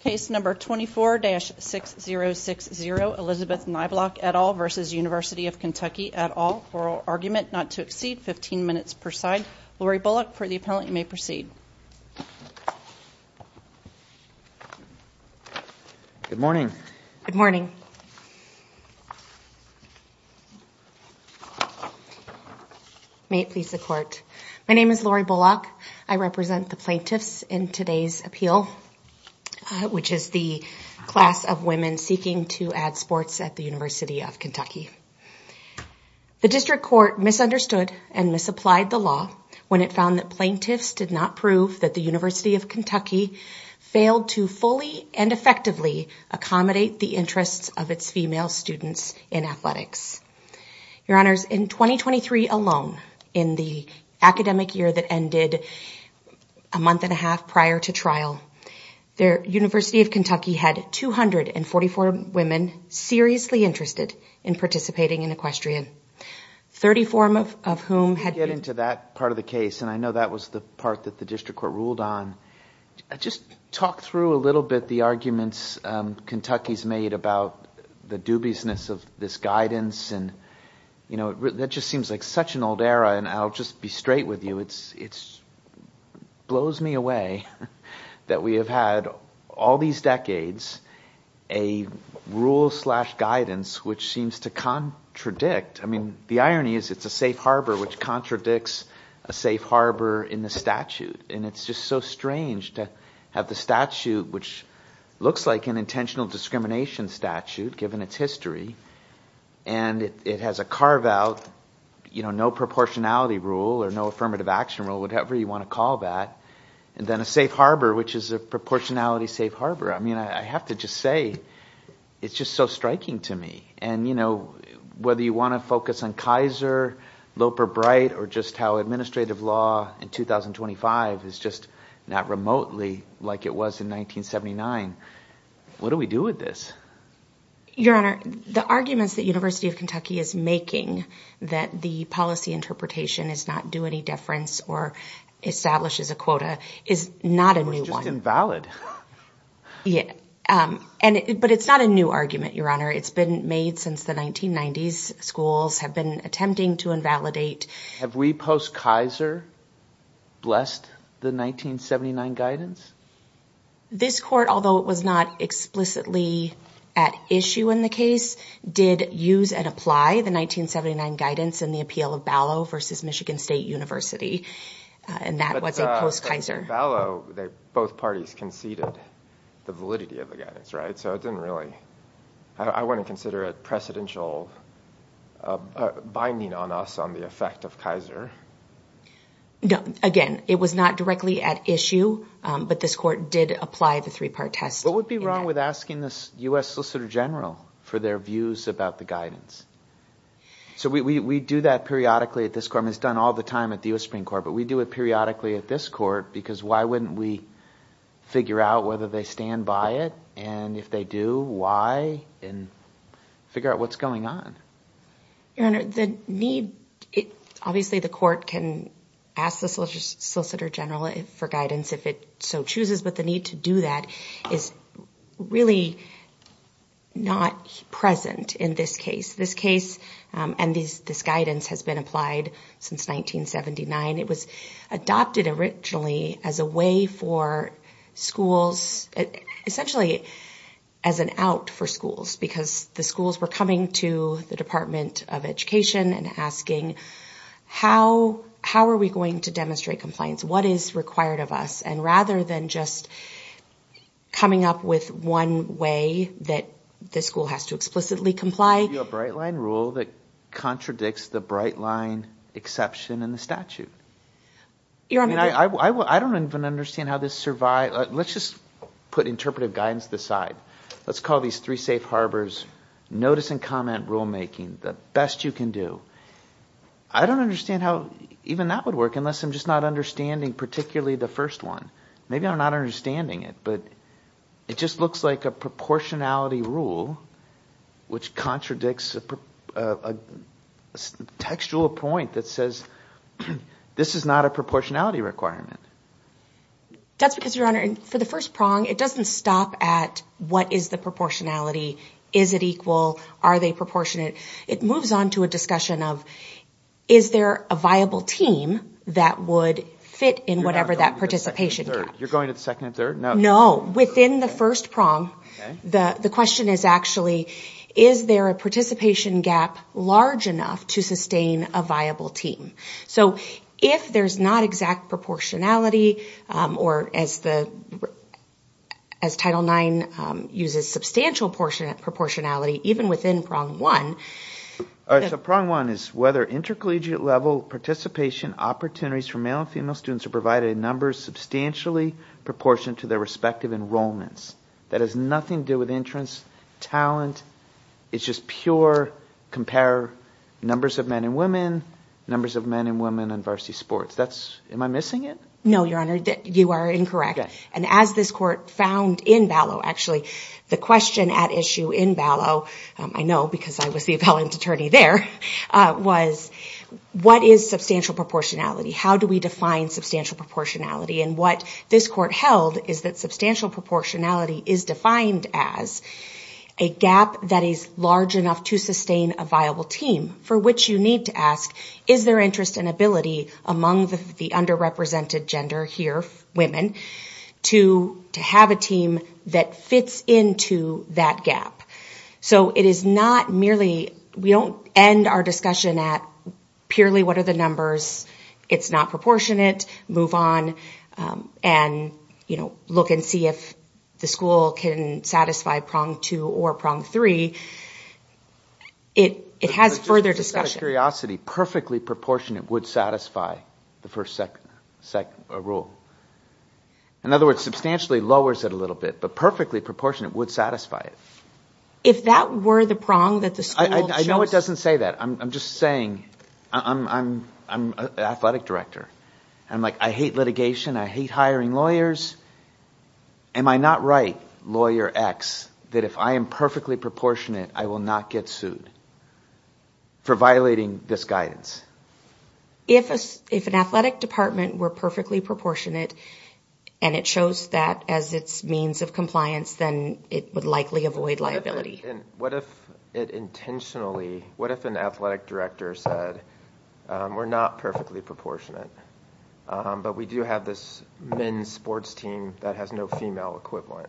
Case number 24-6060 Elizabeth Niblock et al. versus University of Kentucky et al. Oral argument not to exceed 15 minutes per side. Laurie Bullock for the appellant you may proceed. Good morning. Good morning. May it please the court. My which is the class of women seeking to add sports at the University of Kentucky. The district court misunderstood and misapplied the law when it found that plaintiffs did not prove that the University of Kentucky failed to fully and effectively accommodate the interests of its female students in athletics. Your honors in 2023 alone in the academic year that ended a month and a half prior to trial. The University of Kentucky had 244 women seriously interested in participating in equestrian. 30 form of whom had. Get into that part of the case and I know that was the part that the district court ruled on. Just talk through a little bit the arguments Kentucky's made about the dubiousness of this guidance and you know that just seems like such an old era and I'll just be straight with you. Blows me away that we have had all these decades a rule slash guidance which seems to contradict. I mean the irony is it's a safe harbor which contradicts a safe harbor in the statute and it's just so strange to have the statute which looks like an intentional discrimination statute given its history and it has a carve out you know no proportionality rule or no affirmative action rule whatever you want to call that and then a safe harbor which is a proportionality safe harbor. I mean I have to just say it's just so striking to me and you know whether you want to focus on Kaiser, Loper Bright or just how administrative law in 2025 is just not remotely like it was in 1979. What do we do with this? Your honor the arguments that University of Kentucky is making that the policy interpretation is not do any deference or establishes a quota is not a new one. It's just invalid. Yeah and but it's not a new argument your honor it's been made since the 1990s. Schools have been attempting to invalidate. Have we post Kaiser blessed the 1979 guidance? This court although it was not explicitly at issue in the case did use and apply the 1979 guidance in the appeal of Ballot versus Michigan State University and that was a post Kaiser. Ballot both parties conceded the validity of the guidance right so it didn't really I want to consider it precedential binding on us on the effect of Kaiser. No again it was not directly at issue but this court did apply the three-part test. What would be wrong with asking this U.S. Solicitor General for their views about the guidance? So we we do that periodically at this court it's done all the time at the U.S. Supreme Court but we do it periodically at this court because why wouldn't we figure out whether they stand by it and if they do why and figure out what's going on? Your honor the need it obviously the court can ask the Solicitor General for guidance if it so chooses but the need to do that is really not present in this case. This case and this guidance has been applied since 1979. It was adopted originally as a way for schools essentially as an out for schools because the schools were coming to the Department of Education and asking how how are we going to demonstrate compliance what is required of us and rather than just coming up with one way that the school has to explicitly comply. A bright line rule that contradicts the bright line exception in the statute. I don't even understand how this survive let's just put interpretive guidance to let's call these three safe harbors notice and comment rule making the best you can do. I don't understand how even that would work unless I'm just not understanding particularly the first one. Maybe I'm not understanding it but it just looks like a proportionality rule which contradicts a textual point that says this is not a proportionality requirement. That's because your honor for the first prong it doesn't stop at what is the proportionality is it equal are they proportionate it moves on to a discussion of is there a viable team that would fit in whatever that participation you're going to the second and third no no within the first prong the the question is actually is there a participation gap large enough to sustain a viable team so if there's not exact proportionality or as the as title nine uses substantial proportionate proportionality even within prong one. All right so prong one is whether intercollegiate level participation opportunities for male and female students are provided in numbers substantially proportionate to their enrollments that has nothing to do with entrance talent it's just pure compare numbers of men and women numbers of men and women in varsity sports that's am I missing it no your honor that you are incorrect and as this court found in ballot actually the question at issue in ballot I know because I was the appellant attorney there was what is substantial proportionality how do we is defined as a gap that is large enough to sustain a viable team for which you need to ask is there interest and ability among the the underrepresented gender here women to to have a team that fits into that gap so it is not merely we don't end our discussion at purely what are the the school can satisfy prong two or prong three it it has further discussion curiosity perfectly proportionate would satisfy the first second second rule in other words substantially lowers it a little bit but perfectly proportionate would satisfy it if that were the prong that the I know it doesn't say that I'm just saying I'm I'm I'm an athletic director I'm like I hate litigation I hate hiring lawyers am I not right lawyer x that if I am perfectly proportionate I will not get sued for violating this guidance if if an athletic department were perfectly proportionate and it shows that as its means of compliance then it would likely avoid liability and what if it intentionally what if an athletic director said we're not perfectly proportionate but we do have this men's sports team that has no female equivalent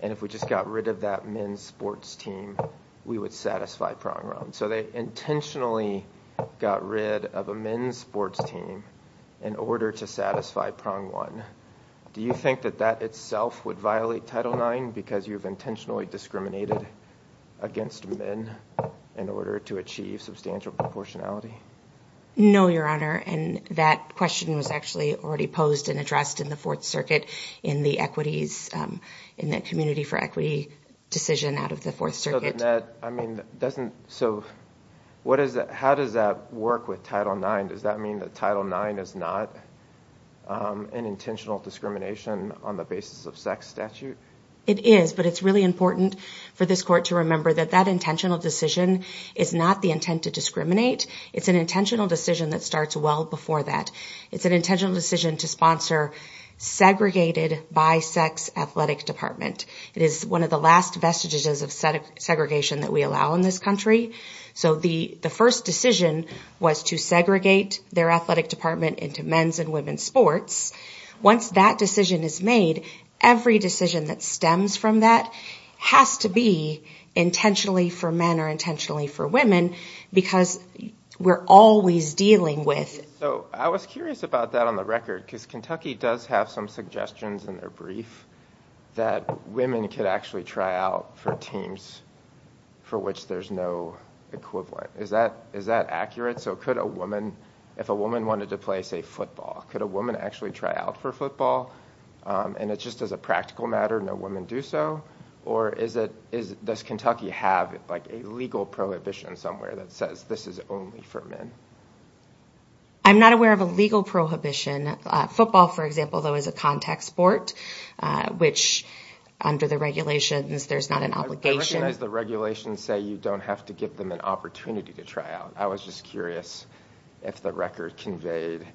and if we just got rid of that men's sports team we would satisfy prong run so they intentionally got rid of a men's sports team in order to satisfy prong one do you think that that itself would violate title nine because you've intentionally discriminated against men in order to achieve substantial proportionality no your honor and that question was actually already posed and addressed in the fourth circuit in the equities in the community for equity decision out of the fourth circuit I mean doesn't so what is that how does that work with title nine does that mean that title nine is not an intentional discrimination on the basis of sex statute it is but it's really important for this court to remember that that intentional decision is not the intent to discriminate it's an intentional decision that starts well before that it's an intentional decision to sponsor segregated by sex athletic department it is one of the last vestiges of segregation that we allow in this country so the the first decision was to segregate their athletic department into men's and women's sports once that decision is made every decision that stems from that has to be intentionally for men or intentionally for women because we're always dealing with so I was curious about that on the record because Kentucky does have some suggestions in their brief that women could actually try out for teams for which there's no equivalent is that is that accurate so could a woman if a woman wanted to play say football could a woman actually try out for football and it's just as a practical matter no women do so or is it is does Kentucky have like a legal prohibition somewhere that says this is only for men I'm not aware of a legal prohibition football for example though is a contact sport which under the regulations there's not an obligation as the regulations say you don't have to give them an opportunity to try out I was just if the record conveyed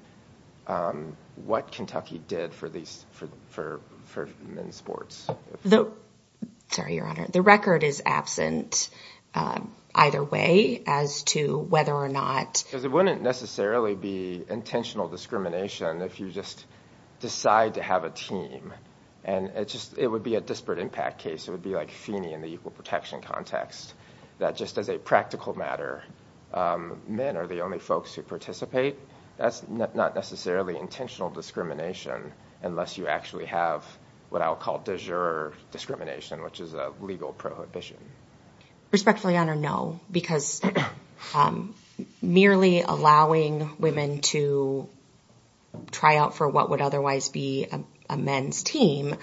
what Kentucky did for these for for men's sports though sorry your honor the record is absent either way as to whether or not because it wouldn't necessarily be intentional discrimination if you just decide to have a team and it just it would be a disparate impact case it would be like Feeney in the equal protection context that just as a practical matter men are the only folks who participate that's not necessarily intentional discrimination unless you actually have what I'll call de jure discrimination which is a legal prohibition respectfully honor no because merely allowing women to try out for what would otherwise be a men's team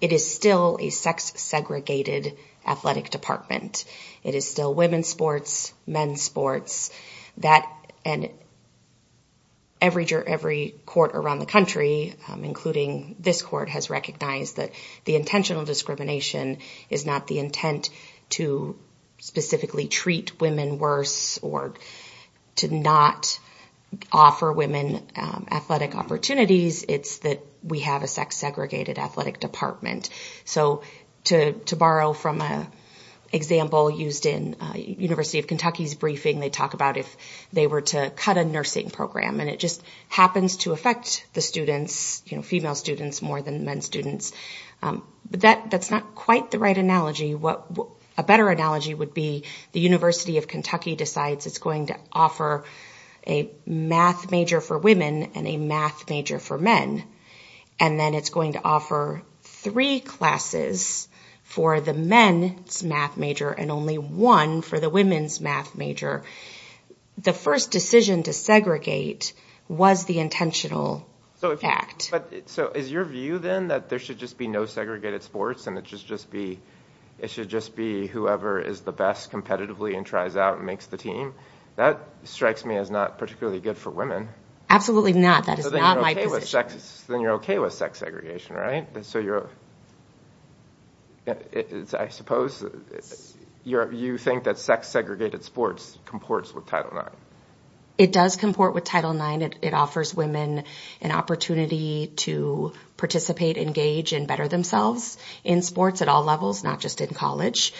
it is still a sex segregated athletic department it is still women's sports men's sports that and every jury every court around the country including this court has recognized that the intentional discrimination is not the intent to specifically treat women worse or to not offer women athletic opportunities it's that we have a sex segregated athletic department so to to borrow from a example used in University of Kentucky's briefing they talk about if they were to cut a nursing program and it just happens to affect the students you know female students more than men students but that that's not quite the right analogy what a better analogy would be the University of Kentucky decides it's going to offer a math major for women and a math major for and then it's going to offer three classes for the men's math major and only one for the women's math major the first decision to segregate was the intentional so in fact but so is your view then that there should just be no segregated sports and it should just be it should just be whoever is the best competitively and tries out and makes the team that strikes me as not particularly good for women absolutely not that is not my position then you're okay with sex segregation right so you're it's i suppose it's you're you think that sex segregated sports comports with title nine it does comport with title nine it offers women an opportunity to participate engage and better themselves in sports at all levels not just in college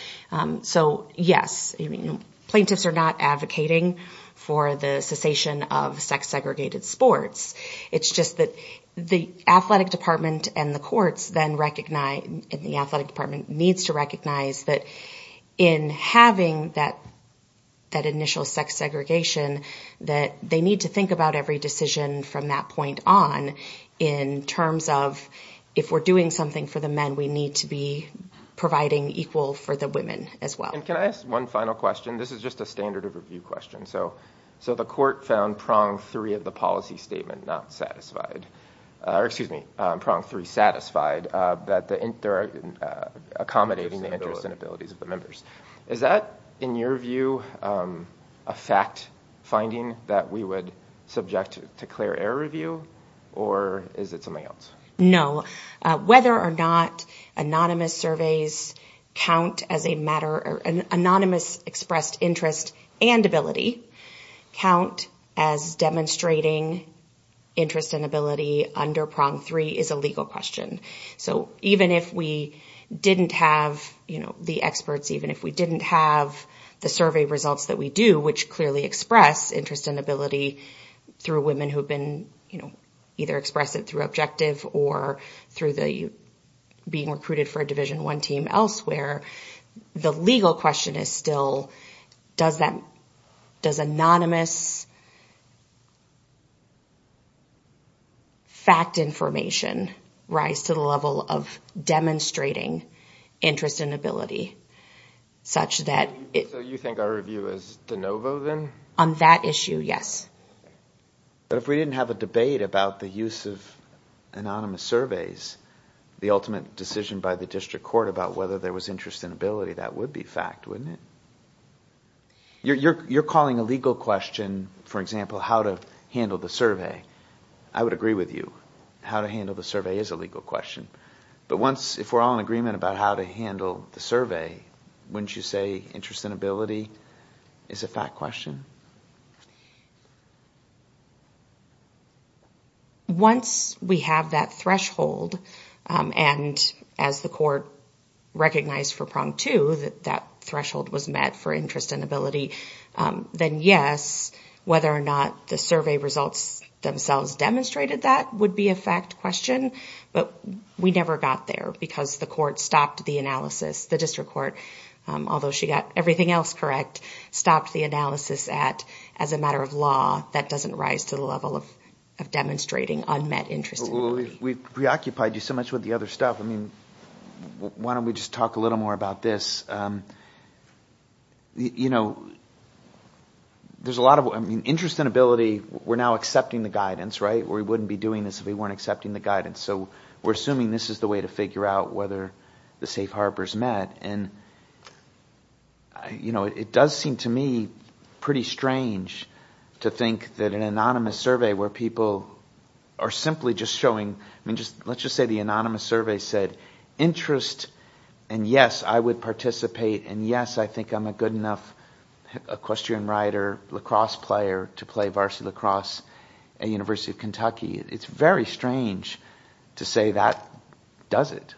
so yes you mean plaintiffs are not advocating for the cessation of sex segregated sports it's just that the athletic department and the courts then recognize in the athletic department needs to recognize that in having that that initial sex segregation that they need to think about every decision from that point on in terms of if we're doing something for the men we need to be as well and can i ask one final question this is just a standard of review question so so the court found prong three of the policy statement not satisfied or excuse me prong three satisfied uh that the inter uh accommodating the interests and abilities of the members is that in your view um a fact finding that we would subject to clear error review or is it no uh whether or not anonymous surveys count as a matter or an anonymous expressed interest and ability count as demonstrating interest and ability under prong three is a legal question so even if we didn't have you know the experts even if we didn't have the survey results that we do which clearly express interest and ability through women who've been you know either express it through objective or through the being recruited for a division one team elsewhere the legal question is still does that does anonymous fact information rise to the level of demonstrating interest and ability such that you think our review is de novo then on that issue yes but if we didn't have a debate about the use of anonymous surveys the ultimate decision by the district court about whether there was interest in ability that would be fact wouldn't it you're you're calling a legal question for example how to handle the survey i would agree with you how to handle the survey is a legal question but once if we're all in agreement about how to handle the survey wouldn't you say interest and ability is a fact question once we have that threshold and as the court recognized for prong two that that threshold was met for interest and ability then yes whether or not the survey results themselves demonstrated that would be a fact question but we never got there because the court stopped the analysis the district court although she got everything else correct stopped the analysis at as a matter of law that doesn't rise to the level of of demonstrating unmet interest we've preoccupied you so much with the other stuff i mean why don't we just talk a little more about this um you know there's a lot of i mean interest and ability we're now accepting the guidance right we wouldn't be doing this if we weren't accepting the guidance so we're assuming this is the way to figure out whether the safe harbor is met and you know it does seem to me pretty strange to think that an anonymous survey where people are simply just showing i mean just let's just say the anonymous survey said interest and yes i would participate and yes i think i'm a good enough equestrian rider lacrosse player to play varsity lacrosse at university of kentucky it's very strange to say that does it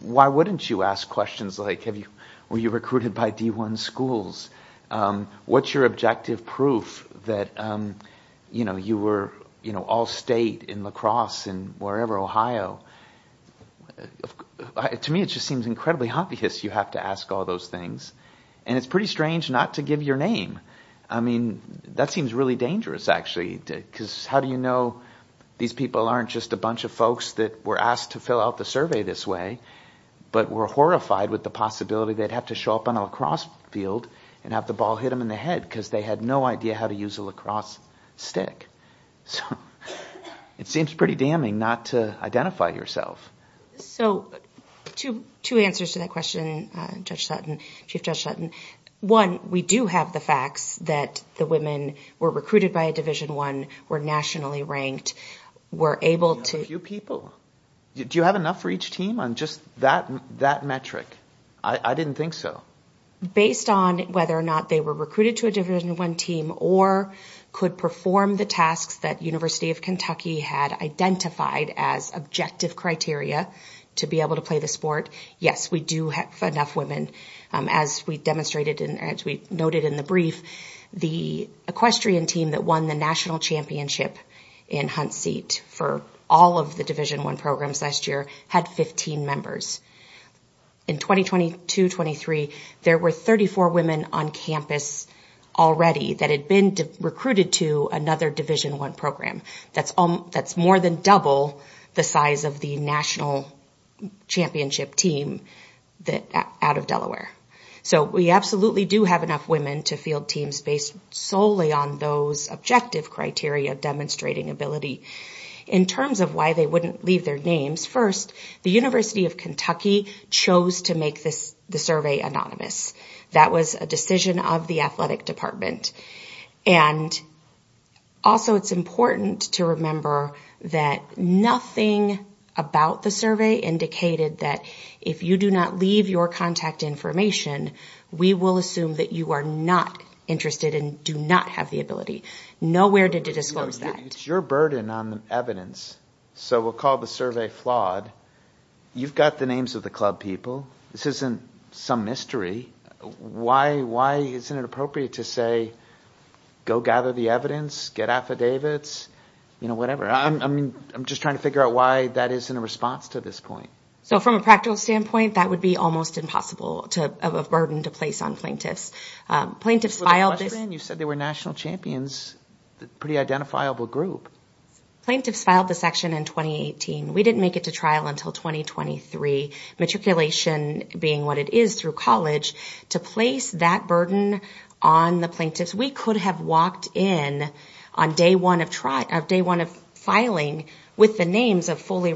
why wouldn't you ask questions like have you were you recruited by d1 schools um what's your objective proof that um you know you were you know all state in lacrosse and wherever ohio to me it just seems incredibly obvious you have to ask all those things and it's pretty strange not to give your name i mean that seems really dangerous actually because how do you know these aren't just a bunch of folks that were asked to fill out the survey this way but were horrified with the possibility they'd have to show up on a lacrosse field and have the ball hit them in the head because they had no idea how to use a lacrosse stick so it seems pretty damning not to identify yourself so two two answers to that question uh judge sutton chief judge sutton one we do have the facts that the women were recruited by a division one were nationally ranked were able to a few people do you have enough for each team on just that that metric i i didn't think so based on whether or not they were recruited to a division one team or could perform the tasks that university of kentucky had identified as objective criteria to be able to play the sport yes we do have enough women as we demonstrated and as we noted in the brief the equestrian team that won the national championship in hunt seat for all of the division one programs last year had 15 members in 2022 23 there were 34 women on campus already that had been recruited to another division one program that's all that's more than double the size of the national championship team that out of delaware so we absolutely do enough women to field teams based solely on those objective criteria demonstrating ability in terms of why they wouldn't leave their names first the university of kentucky chose to make this the survey anonymous that was a decision of the athletic department and also it's important to remember that nothing about the survey indicated that if you do not leave your contact information we will assume that you are not interested and do not have the ability nowhere did to disclose that it's your burden on the evidence so we'll call the survey flawed you've got the names of the club people this isn't some mystery why why isn't it appropriate to say go gather the evidence get affidavits you know whatever i'm i mean i'm just trying to figure out why that isn't a response to this point so from a practical standpoint that would be almost impossible to of a burden to place on plaintiffs plaintiffs filed you said they were national champions pretty identifiable group plaintiffs filed the section in 2018 we didn't make it to trial until 2023 matriculation being what it is through college to place that burden on the plaintiffs we could have walked in on day one of trial of day one of filing with the names of fully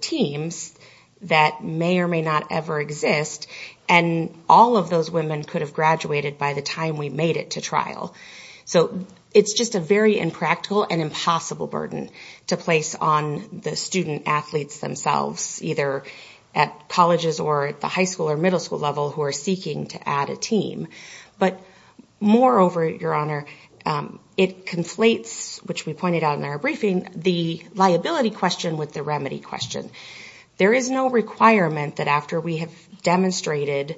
teams that may or may not ever exist and all of those women could have graduated by the time we made it to trial so it's just a very impractical and impossible burden to place on the student athletes themselves either at colleges or at the high school or middle school level who are seeking to add a team but moreover your honor it conflates which we pointed out in our briefing the liability question with the remedy question there is no requirement that after we have demonstrated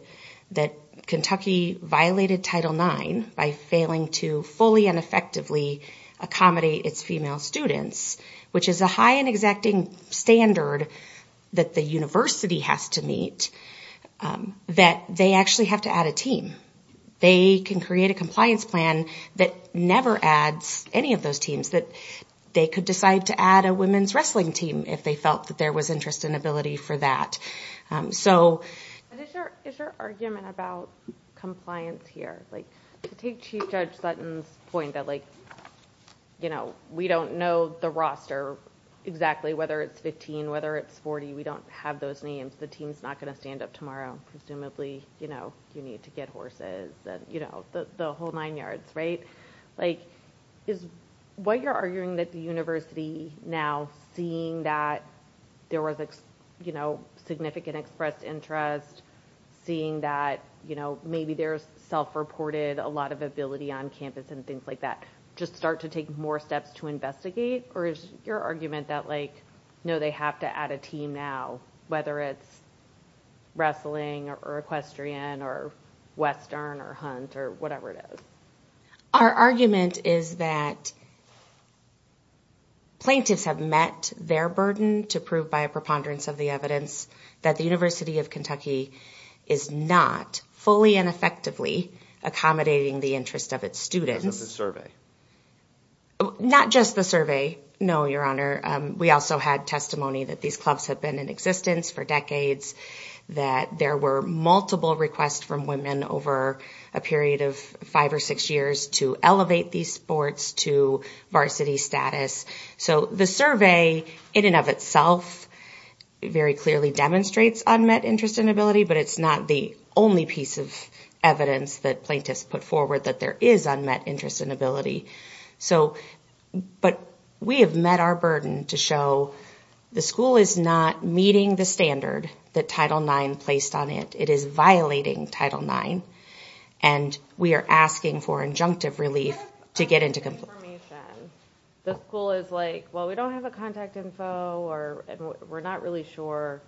that kentucky violated title 9 by failing to fully and effectively accommodate its female students which is a high and exacting standard that the university has to meet that they actually have to add a team they can create a compliance plan that never adds any of those teams that they could decide to add a women's wrestling team if they felt that there was interest and ability for that so is your argument about compliance here like to take chief judge sutton's point that like you know we don't know the roster exactly whether it's 15 whether it's 40 we don't have those names the team's not going to stand up tomorrow presumably you know you need to get horses you know the whole nine yards right like is what you're arguing that the university now seeing that there was you know significant expressed interest seeing that you know maybe there's self-reported a lot of ability on campus and things like that just start to take more steps to investigate or is your argument that like no they have to add a team now whether it's wrestling or equestrian or western or hunt or whatever it is our argument is that plaintiffs have met their burden to prove by a preponderance of the evidence that the university of kentucky is not fully and effectively accommodating the interest of its students of the survey not just the survey no your honor we also had testimony that these clubs have been in existence for decades that there were multiple requests from women over a period of five or six years to elevate these sports to varsity status so the survey in and of itself very clearly demonstrates unmet interest and ability but it's not the only piece of evidence that plaintiffs put forward that there is unmet interest and ability so but we have met our burden to show the school is not meeting the standard that title nine placed on it it is violating title nine and we are asking for injunctive relief to get into confirmation the school is like well we don't have a contact info or we're not really sure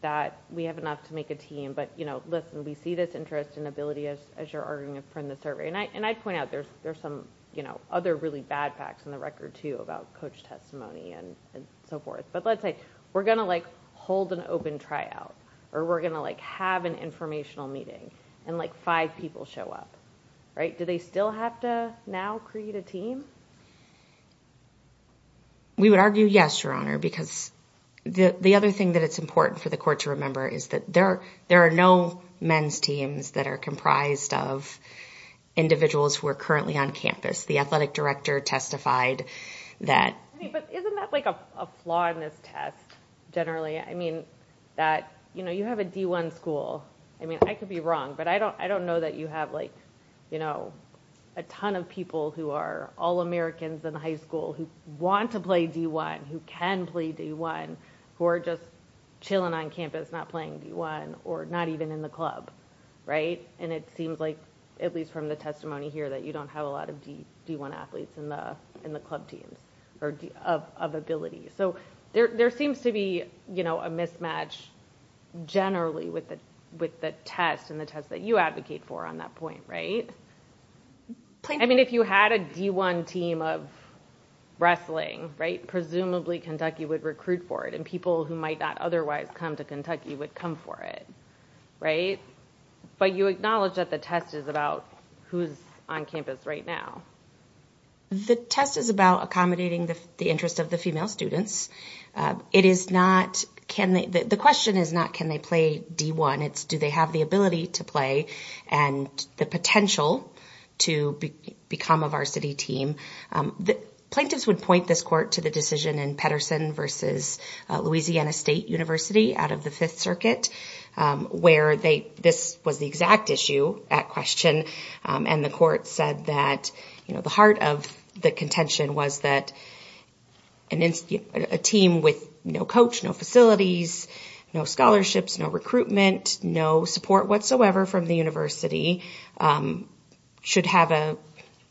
that we have enough to make a team but you know listen we see this interest and ability as as you're arguing from the survey and i and i point out there's there's some you know other really bad facts on the record too about coach testimony and and so forth but let's say we're going to like hold an open try out or we're going to like have an informational meeting and like five people show up right do they still have to now create a team we would argue yes your honor because the the other thing that it's important for the court to remember is that there there are no men's teams that are comprised of individuals who are currently on campus the athletic director testified that but isn't that like a flaw in this test generally i mean that you know you have a d1 school i mean i could be wrong but i don't i don't know that you have like you know a ton of people who are all americans in high school who want to play d1 who can play d1 who are just chilling on campus not playing d1 or not even in the club right and it seems like at least from the testimony here that you don't have a lot of d d1 athletes in the in the club teams or of ability so there there seems to be you know a mismatch generally with the with the test and the test that you advocate for on that point right i mean if you had a d1 team of wrestling right presumably kentucky would recruit for it and people who might not otherwise come to kentucky would come for it right but you acknowledge that the test is about who's on campus right now the test is about accommodating the interest of the female students it is not can they the question is not can they play d1 it's do they have the ability to play and the potential to become of our city team plaintiffs would point this court to the decision in peterson versus louisiana state university out of the fifth circuit where they this was the exact issue at question and the court said that you know the heart of the contention was that an institute a team with no coach no facilities no scholarships no recruitment no support whatsoever from the university um should have a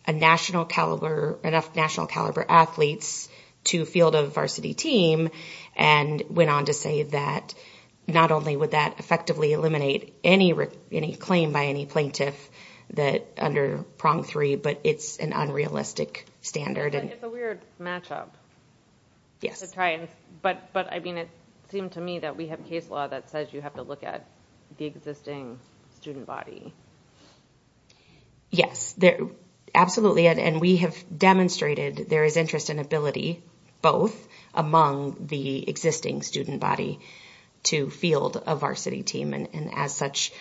a national caliber enough national caliber athletes to field of varsity team and went on to say that not only would that effectively eliminate any any claim by any plaintiff that under prong three but it's an unrealistic standard and it's a weird match-up yes it's right but but i mean it seemed to me that we have case law that says you have to look at the existing student body yes they're absolutely and we have demonstrated there is interest in ability both among the existing student body to field of varsity team and as such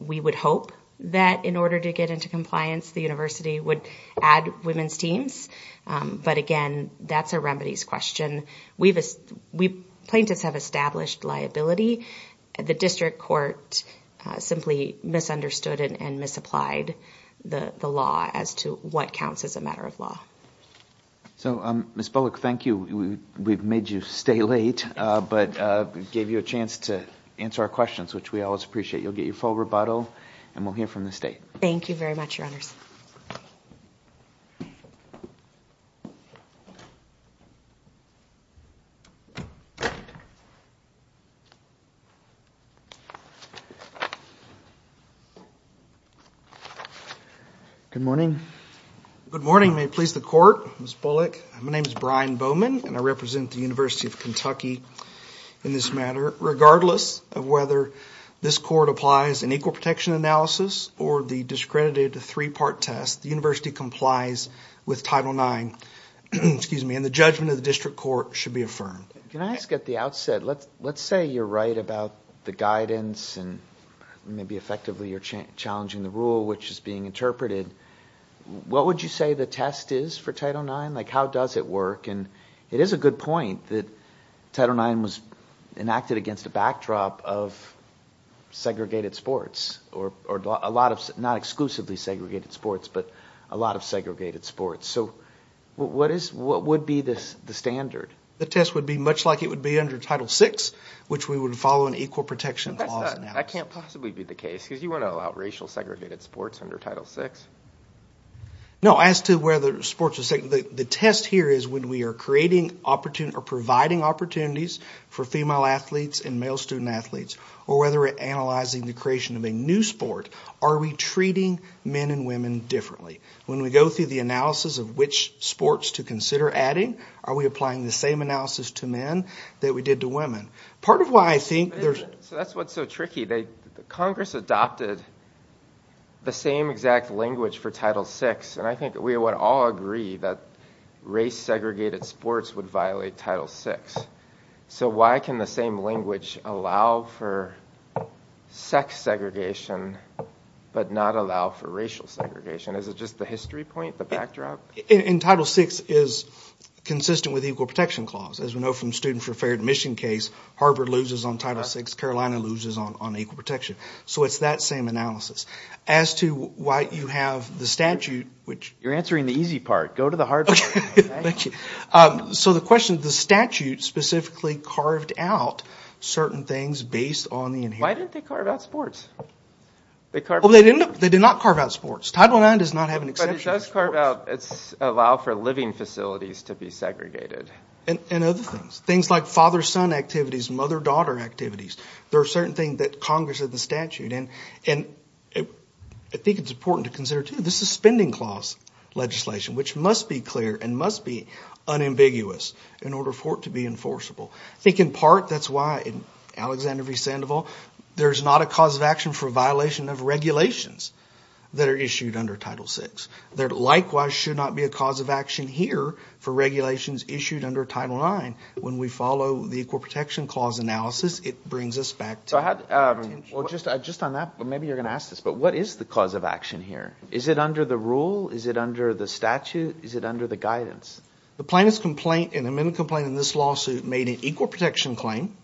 we would hope that in order to get into compliance the university would add women's teams but again that's a remedies question we've we plaintiffs have established liability the district court simply misunderstood and misapplied the the law as to what counts as a matter of law so um miss bullock thank you we've made you stay late uh but uh gave you a chance to answer our questions which we always appreciate you'll get your full rebuttal and we'll hear from the state thank you very much your honors good morning good morning may it please the court miss bullock my name is brian bowman and i represent the university of kentucky in this matter regardless of whether this court applies an equal protection analysis or the discredited three-part test the university complies with title nine excuse me and the judgment of the district court should be affirmed can i ask at the outset let's let's say you're right about the guidance and maybe effectively you're challenging the rule which is being interpreted what would you say the test is for title nine like how does it work and it is a good point that title nine was enacted against a backdrop of segregated sports or a lot of not exclusively segregated sports but a lot of segregated sports so what is what would be this the standard the test would be much like it would be under title six which we would follow an equal protection i can't possibly be the case because you want to allow racial segregated sports under title six no as to whether sports the test here is when we are creating opportunity or providing opportunities for female athletes and male student athletes or whether we're analyzing the creation of a new sport are we treating men and women differently when we go through the analysis of which sports to consider adding are we applying the same analysis to men that we did to women part of why i think there's so that's what's so tricky they congress adopted the same exact language for title six and i think we would all agree that race segregated sports would violate title six so why can the same language allow for sex segregation but not allow for racial segregation is it just the history point the backdrop in title six is consistent with equal protection so it's that same analysis as to why you have the statute which you're answering the easy part go to the hard so the question the statute specifically carved out certain things based on the why didn't they carve out sports they carved they did not carve out sports title nine does not have an exception but it does carve out it's allow for living facilities to be segregated and and other things things like father-son activities mother-daughter activities there are certain things that congress of the statute and and i think it's important to consider too the suspending clause legislation which must be clear and must be unambiguous in order for it to be enforceable i think in part that's why in alexander v sandoval there's not a cause of action for violation of regulations that are issued under title six there likewise should not be a cause of action here for regulations issued under title nine when we follow the equal protection clause analysis it brings us back to i had well just i just on that but maybe you're going to ask this but what is the cause of action here is it under the rule is it under the statute is it under the guidance the plaintiff's complaint in a minute complaint in this lawsuit made an equal protection claim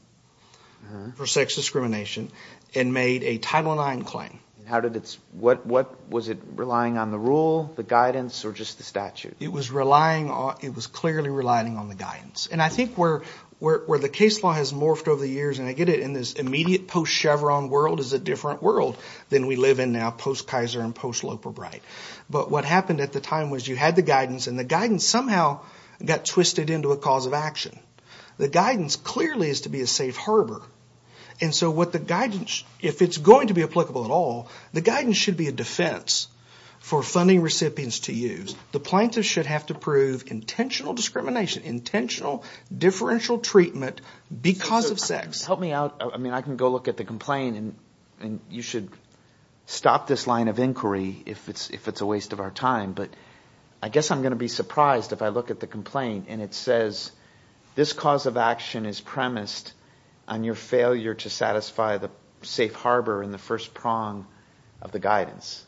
for sex discrimination and made a title nine claim how did it's what what was it relying on the rule the guidance or just the statute it was relying on it was clearly relying on the guidance and i think where where the case law has morphed over the years and i get it in this immediate post chevron world is a different world than we live in now post kaiser and post loper bright but what happened at the time was you had the guidance and the guidance somehow got twisted into a cause of action the guidance clearly is to be a safe harbor and so what the guidance if it's going to be applicable at all the guidance should be a defense for funding recipients to use the plaintiff should have to prove intentional discrimination intentional differential treatment because of sex help me out i mean i can go look at the complaint and and you should stop this line of inquiry if it's if it's a waste of our time but i guess i'm going to be surprised if i look at the complaint and it says this cause of action is premised on your failure to satisfy the safe harbor in the first prong of the guidance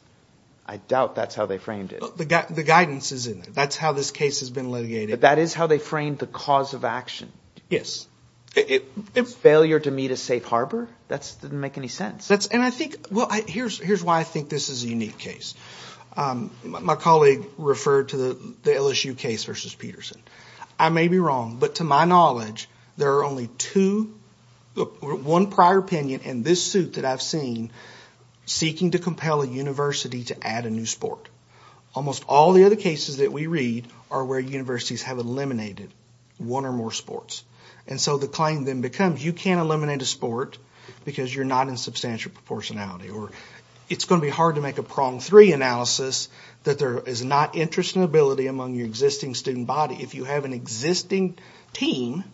i doubt that's how they framed it the guidance is in there that's how this case has been litigated that is how they framed the cause of action yes it failure to meet a safe harbor that's didn't make any sense that's and i think well here's here's why i think this is a unique case um my colleague referred to the the lsu case versus peterson i may be wrong but to my knowledge there are only two one prior opinion in this suit that i've seen seeking to compel a university to add a new sport almost all the other cases that we read are where universities have eliminated one or more sports and so the claim then becomes you can't eliminate a sport because you're not in substantial proportionality or it's going to be hard to make a prong three analysis that there is not interest and ability among your existing student body if you have an existing team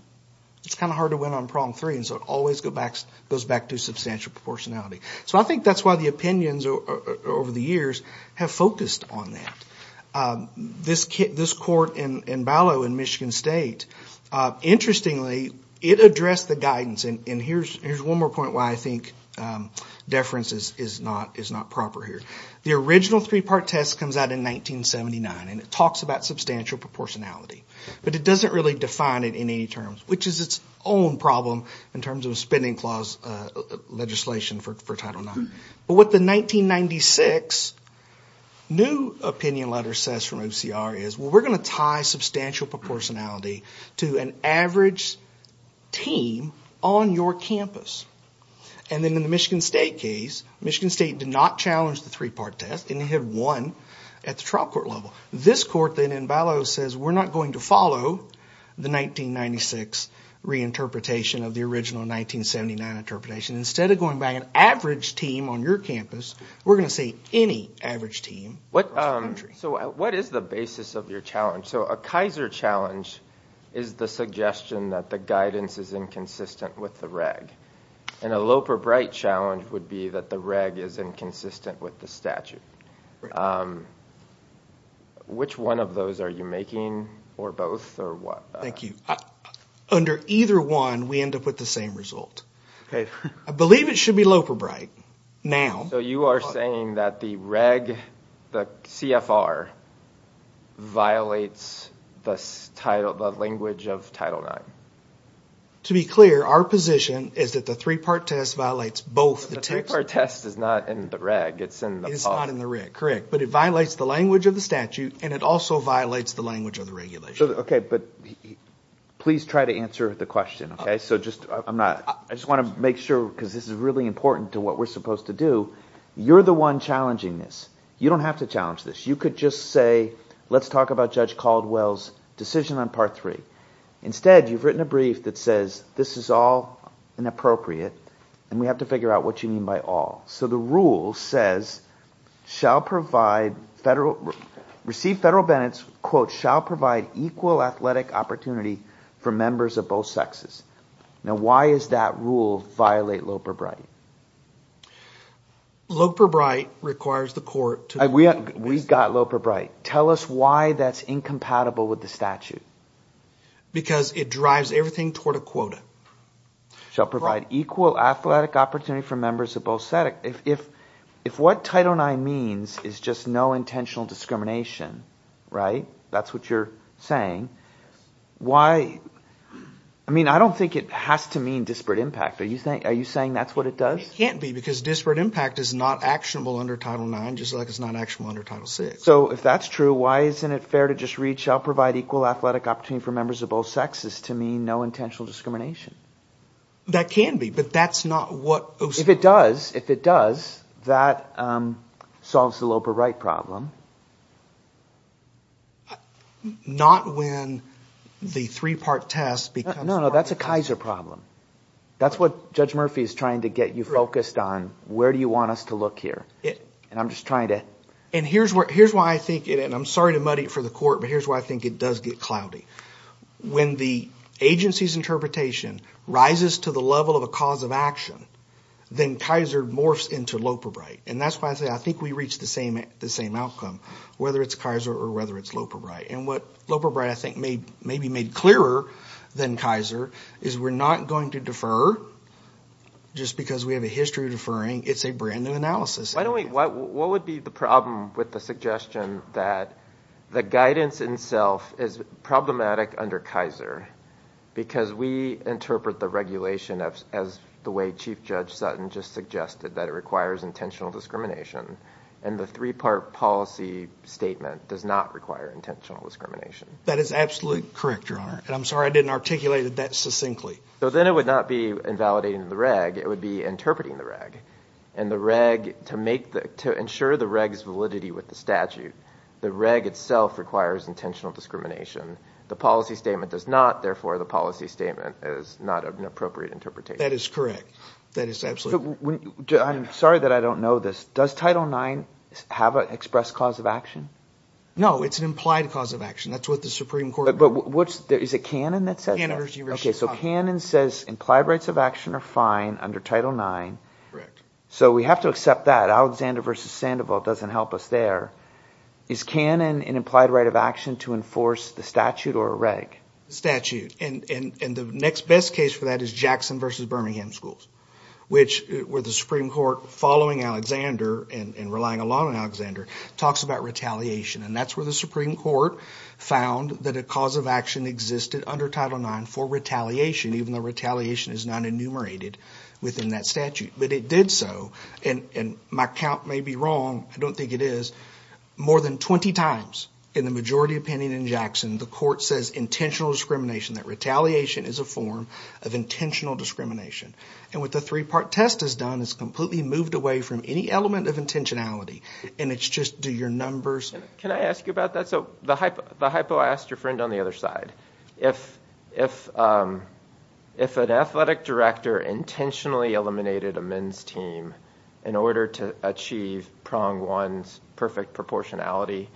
it's kind of hard to win on prong three and so it always go back goes back to substantial proportionality so i think that's why the opinions over the years have focused on that this kid this court in in ballo in michigan state uh interestingly it addressed the guidance and here's here's one more point why i think um deference is is not is not proper here the original three-part test comes out in 1979 and it talks about substantial proportionality but it doesn't really define it in any terms which is its own problem in terms of a spending clause uh legislation for title nine but what the 1996 new opinion letter says from ocr is well we're going to tie substantial proportionality to an average team on your campus and then in the michigan state case michigan state did not challenge the three-part test and they had won at the trial court level this court then in ballo says we're not going to follow the 1996 reinterpretation of the original 1979 interpretation instead of going back an average team on your campus we're going to say any average team what um so what is the basis of your challenge so a kaiser challenge is the suggestion that the guidance is inconsistent with the reg and a loper bright challenge would be that the reg is inconsistent with the statute which one of those are you making or both or what thank you under either one we end up with the same okay i believe it should be loper bright now so you are saying that the reg the cfr violates the title the language of title nine to be clear our position is that the three-part test violates both the two-part test is not in the reg it's in the it's not in the rig correct but it violates the language of the statute and it also violates the language of regulation okay but please try to answer the question okay so just i'm not i just want to make sure because this is really important to what we're supposed to do you're the one challenging this you don't have to challenge this you could just say let's talk about judge caldwell's decision on part three instead you've written a brief that says this is all inappropriate and we have to figure out what you mean by all so the rule says shall provide federal receive federal bennett's quote shall provide equal athletic opportunity for members of both sexes now why is that rule violate loper bright loper bright requires the court to we we got loper bright tell us why that's incompatible with the statute because it drives everything toward a quota shall provide equal athletic opportunity for members of both static if if what title nine means is just no intentional discrimination right that's what you're saying why i mean i don't think it has to mean disparate impact are you saying are you saying that's what it does it can't be because disparate impact is not actionable under title nine just like it's not actionable under title six so if that's true why isn't it fair to just reach i'll provide equal athletic opportunity for members of both sexes to mean no intentional discrimination that can be but that's not what if it does if it does that um solves the loper right problem not when the three-part test because no no that's a kaiser problem that's what judge murphy is trying to get you focused on where do you want us to look here and i'm just trying to and here's what here's why i think it and i'm sorry to muddy it for the court but here's why i think it does get cloudy when the agency's interpretation rises to the level of a cause of then kaiser morphs into loper bright and that's why i say i think we reach the same the same outcome whether it's kaiser or whether it's loper bright and what loper bright i think made maybe made clearer than kaiser is we're not going to defer just because we have a history of deferring it's a brand new analysis why don't we what what would be the problem with the suggestion that the guidance itself is problematic under kaiser because we interpret the regulation of as the way chief judge sutton just suggested that it requires intentional discrimination and the three-part policy statement does not require intentional discrimination that is absolutely correct your honor and i'm sorry i didn't articulate it that succinctly so then it would not be invalidating the reg it would be interpreting the reg and the reg to make the to ensure the reg's validity with the statute the reg itself requires intentional discrimination the policy statement does not therefore the policy statement is not an appropriate interpretation that is correct that is absolutely i'm sorry that i don't know this does title nine have an express cause of action no it's an implied cause of action that's what the supreme court but what's there is a canon that says okay so canon says implied rights of action are fine under title nine correct so we have to accept that alexander versus sandoval doesn't help us there is canon an implied right of action to enforce the statute or a reg statute and and and the next best case for that is jackson versus birmingham schools which were the supreme court following alexander and and relying a lot on alexander talks about retaliation and that's where the supreme court found that a cause of action existed under title nine for retaliation even though retaliation is not enumerated within that statute but it did so and and my count may be wrong i don't think it is more than 20 times in the majority opinion in jackson the court says intentional discrimination that retaliation is a form of intentional discrimination and what the three-part test has done is completely moved away from any element of intentionality and it's just do your numbers can i ask you about that so the hypo the hypo i asked your friend on the other side if if um if an athletic director intentionally eliminated a team in order to achieve prong one's perfect proportionality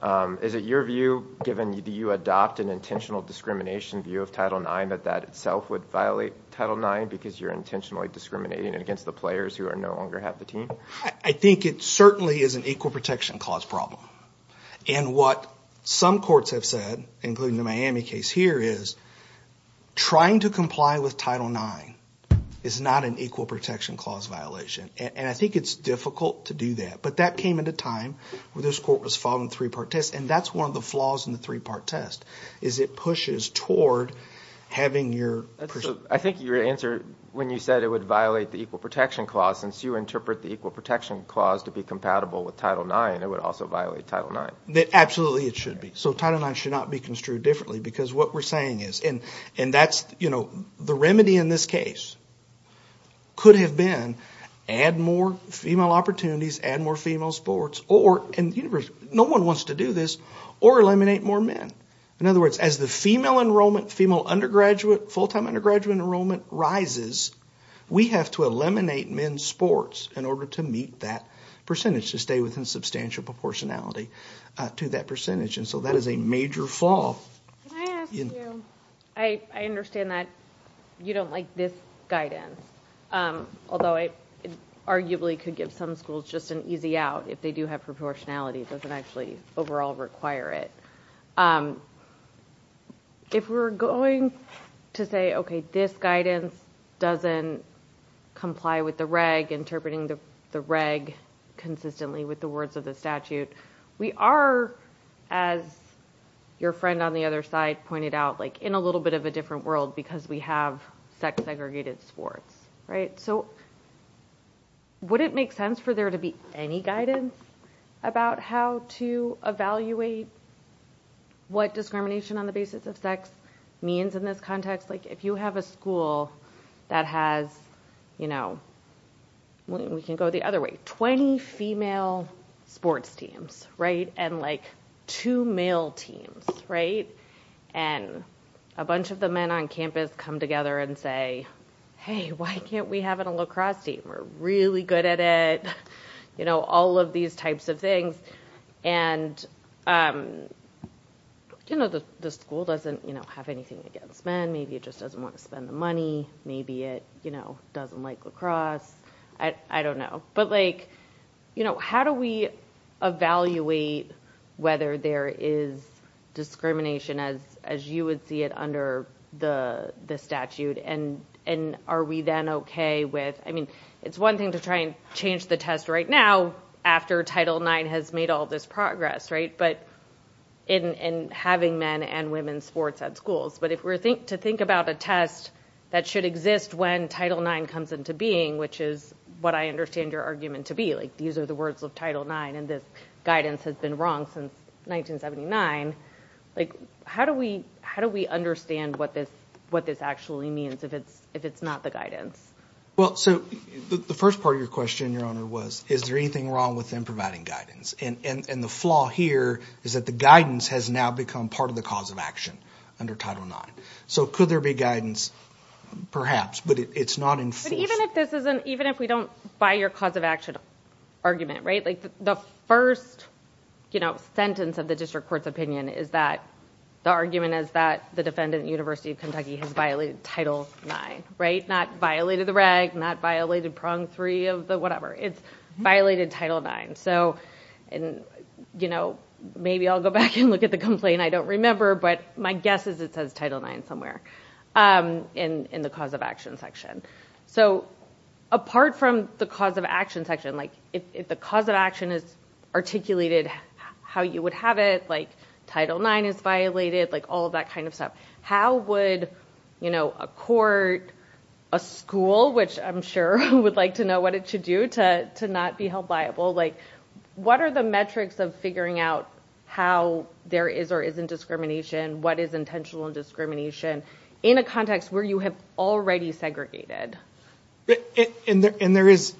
um is it your view given do you adopt an intentional discrimination view of title nine that that itself would violate title nine because you're intentionally discriminating against the players who are no longer have the team i think it certainly is an equal protection clause problem and what some courts have said including the miami case here is trying to comply with title nine is not an equal protection clause violation and i think it's difficult to do that but that came at a time where this court was following three-part test and that's one of the flaws in the three-part test is it pushes toward having your i think your answer when you said it would violate the equal protection clause since you interpret the equal protection clause to be compatible with title nine it would also violate title nine that absolutely it should be so title nine should not be construed differently because what we're saying is and and that's you know the remedy in this case could have been add more female opportunities add more female sports or in the universe no one wants to do this or eliminate more men in other words as the female enrollment female undergraduate full-time undergraduate enrollment rises we have to eliminate men's sports in order to meet that percentage to stay within substantial proportionality to that percentage and so that is a major fall can i ask you i i understand that you don't like this guidance although it arguably could give some schools just an easy out if they do have proportionality it doesn't actually overall require it if we're going to say okay this guidance doesn't comply with the reg interpreting the the reg consistently with the words of the statute we are as your friend on the other side pointed out like in a little bit of a different world because we have sex segregated sports right so would it make sense for there to be any guidance about how to evaluate what discrimination on the basis of sex means in this context like if you have a school that has you know we can go the other way 20 female sports teams right and like two male teams right and a bunch of the men on campus come together and say hey why can't we have a lacrosse team we're really good at it you know all of these types of things and um you know the the school doesn't you know have anything against men maybe it just doesn't want to spend the money maybe it you know doesn't like lacrosse i i don't know but like you know how do we evaluate whether there is discrimination as as you would see it under the the statute and and are we then okay with i mean it's one thing to try and change the test right now after title nine has made all this progress right but in in having men and women's sports at schools but if we're think to think about a test that should exist when title nine comes into being which is what i understand your argument to be like these are the words of title nine and this guidance has been wrong since 1979 like how do we how do we understand what this what this actually means if it's if it's not the guidance well so the first part of your question your honor was is there anything wrong with them providing guidance and and and the flaw here is that the guidance has now become part of the cause of action under title nine so could there be guidance perhaps but it's not enforced even if this isn't even if we don't buy your cause of action argument right like the first you know sentence of the district court's opinion is that the argument is that the defendant university of kentucky has violated title nine right not violated the reg not violated prong three of the whatever it's violated title nine so and you know maybe i'll go back and look at the complaint i don't remember but my guess is it says title nine somewhere um in in the cause of action section so apart from the cause of action section like if the cause of action is articulated how you would have it like title nine is violated like all that kind of stuff how would you know a court a school which i'm sure would like to know what it should do to to not be held liable like what are the metrics of figuring out how there is or isn't discrimination what is intentional discrimination in a context where you have already segregated and there and there is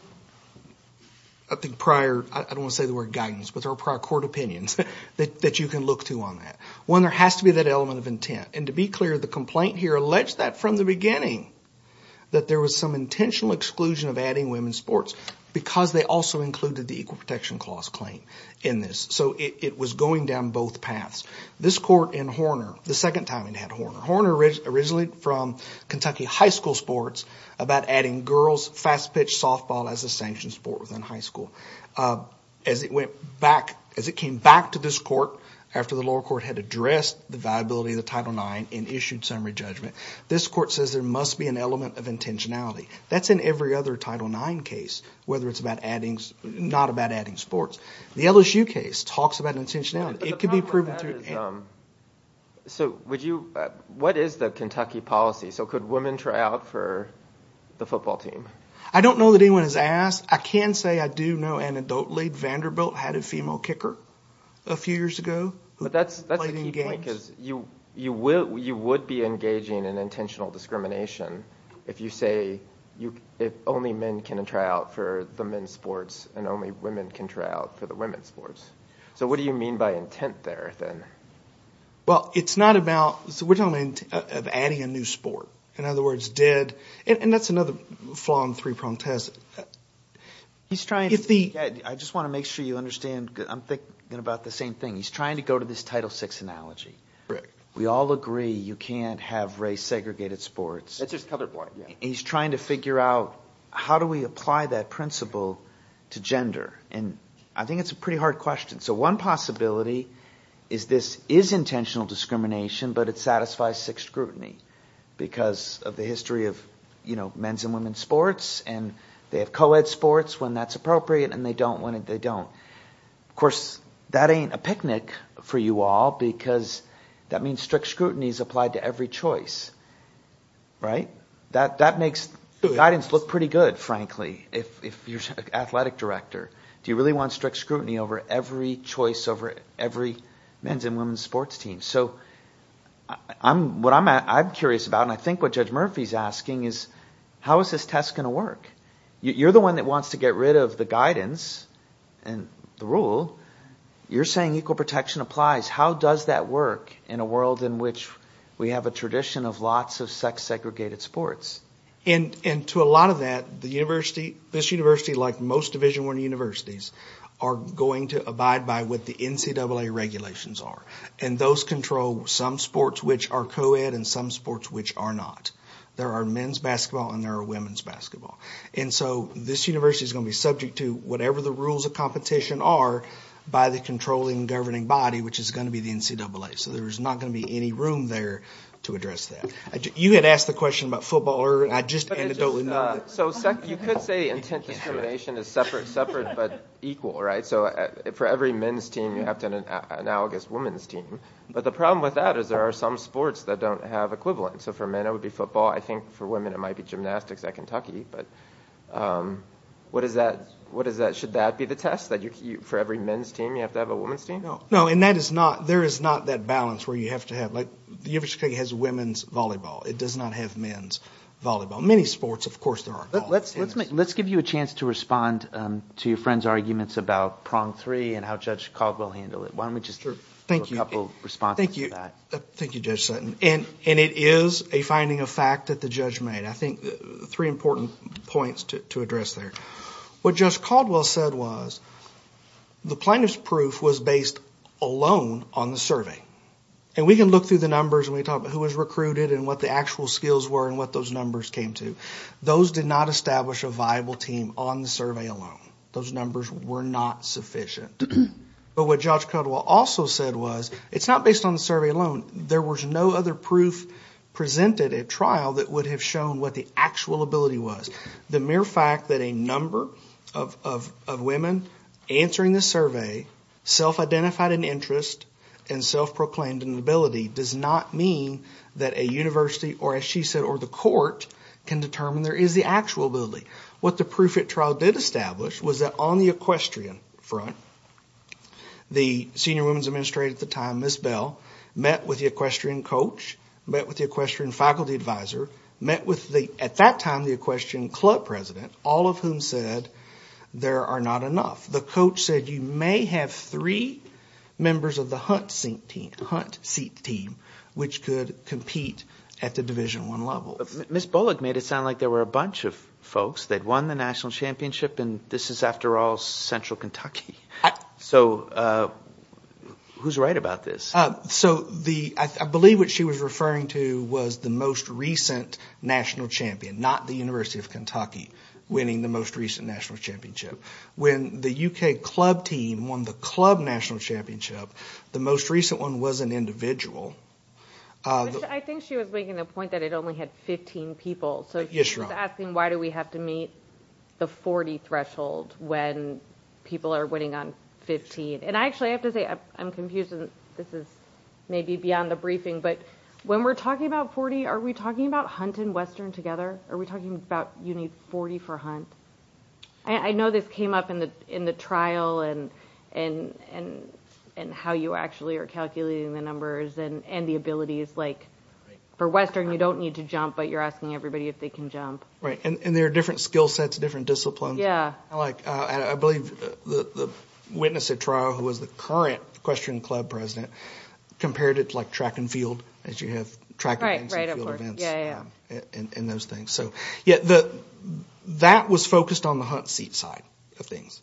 i think prior i don't want to say the word guidance but there are prior court opinions that that you can look to on that one there has to be that element of intent and to be clear the complaint here alleged that from the beginning that there was some intentional exclusion of adding women's sports because they also included the equal protection clause claim in this so it was going down both paths this court in horner the second time it had horner horner originally from kentucky high school sports about adding girls fast pitch softball as a sanctioned sport within high school as it went back as it came back to this court after the lower court had addressed the viability of the title nine and issued summary judgment this court says there must be an element of intentionality that's in every other title nine case whether it's about adding not about adding sports the lsu case talks about intentionality it could be proven through so would you what is the kentucky policy so could women try out for the football team i don't know that anyone has asked i can say i do know anecdotally vanderbilt had a female kicker a few years ago but that's that's the key point because you you will you would be engaging in intentional discrimination if you say you if only men can try out for the men's sports and only women can try out for the women's sports so what do you mean by intent there then well it's not about so we're talking of adding a new sport in other words dead and that's another flaw in three prong test he's trying if the i just want to make sure you understand i'm thinking about the same thing he's trying to go to this title six analogy right we all agree you can't have race segregated sports that's just colorblind he's trying to figure out how do we apply that principle to gender and i think it's a pretty hard question so one possibility is this is intentional discrimination but it satisfies six scrutiny because of the history of you know men's and women's sports and they have co-ed sports when that's appropriate and they don't when they don't of course that ain't a picnic for you all because that means strict scrutiny is applied to every choice right that that makes the guidance look pretty good frankly if if you're an athletic director do you really want strict scrutiny over every choice over every men's and women's sports team so i'm what i'm at i'm curious about and i think what judge murphy's asking is how is this going to work you're the one that wants to get rid of the guidance and the rule you're saying equal protection applies how does that work in a world in which we have a tradition of lots of sex segregated sports and and to a lot of that the university this university like most division one universities are going to abide by what the ncaa regulations are and those control some sports which are co-ed and some sports which are not there are men's basketball and there are women's basketball and so this university is going to be subject to whatever the rules of competition are by the controlling governing body which is going to be the ncaa so there's not going to be any room there to address that you had asked the question about football or i just anecdotally know so sec you could say intent discrimination is separate separate but equal right so for every men's team you have to an analogous women's team but the problem with that is there are some sports that don't have equivalent so for men it would be football i think for women it might be gymnastics at kentucky but um what is that what is that should that be the test that you for every men's team you have to have a woman's team no no and that is not there is not that balance where you have to have like the university has women's volleyball it does not have men's volleyball many sports of course there are let's let's make let's give you a chance to respond um to your friend's arguments about prong three and how judge caldwell handled it why don't we just thank you a couple responses thank you thank you judge sutton and and it is a finding of fact that the judge made i think three important points to address there what just caldwell said was the plaintiff's proof was based alone on the survey and we can look through the numbers and we talk about who was recruited and what the actual skills were and what those numbers came to those did not establish a viable team on survey alone those numbers were not sufficient but what judge codwell also said was it's not based on the survey alone there was no other proof presented at trial that would have shown what the actual ability was the mere fact that a number of of of women answering the survey self-identified an interest and self-proclaimed inability does not mean that a university or as she said or the court can determine there is the actual ability what the proof at trial did establish was that on the equestrian front the senior women's administrator at the time miss bell met with the equestrian coach met with the equestrian faculty advisor met with the at that time the equestrian club president all of whom said there are not enough the coach said you may have three members of the hunt sink hunt seat team which could compete at the division one level miss bullock made it sound like there were a bunch of folks that won the national championship and this is after all central kentucky so uh who's right about this uh so the i believe what she was referring to was the most recent national champion not the university of kentucky winning the most recent national when the uk club team won the club national championship the most recent one was an individual i think she was making the point that it only had 15 people so she's asking why do we have to meet the 40 threshold when people are winning on 15 and i actually have to say i'm confused this is maybe beyond the briefing but when we're talking about 40 are we talking about hunting western together are we talking about you need 40 for hunt i know this came up in the in the trial and and and and how you actually are calculating the numbers and and the abilities like for western you don't need to jump but you're asking everybody if they can jump right and there are different skill sets different disciplines yeah like uh i believe the the witness at trial who was the current equestrian club president compared it like track and field as track and field events yeah and those things so yeah the that was focused on the hunt seat side of things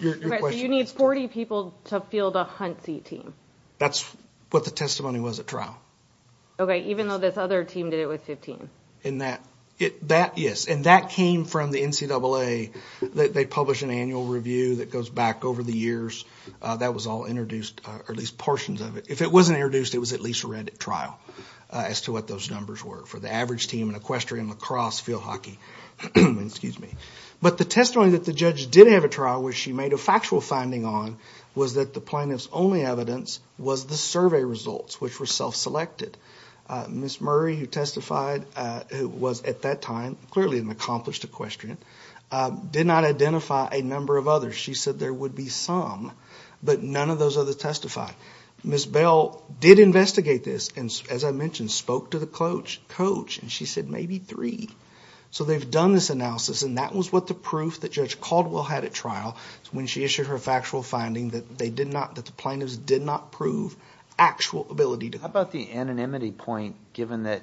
your question you need 40 people to field a hunt seat team that's what the testimony was at trial okay even though this other team did it with 15 in that it that yes and that came from the ncaa that they publish an annual review that goes back over the years uh that was all introduced or at least portions of it if it wasn't introduced it was at least read at trial as to what those numbers were for the average team and equestrian lacrosse field hockey excuse me but the testimony that the judge did have a trial where she made a factual finding on was that the plaintiff's only evidence was the survey results which were self-selected miss murray who testified uh who was at that time clearly an accomplished equestrian did not identify a number of others she said there would be some but none of those other testify miss bell did investigate this and as i mentioned spoke to the coach coach and she said maybe three so they've done this analysis and that was what the proof that judge caldwell had at trial when she issued her factual finding that they did not that the plaintiffs did not prove actual ability to how about the anonymity point given that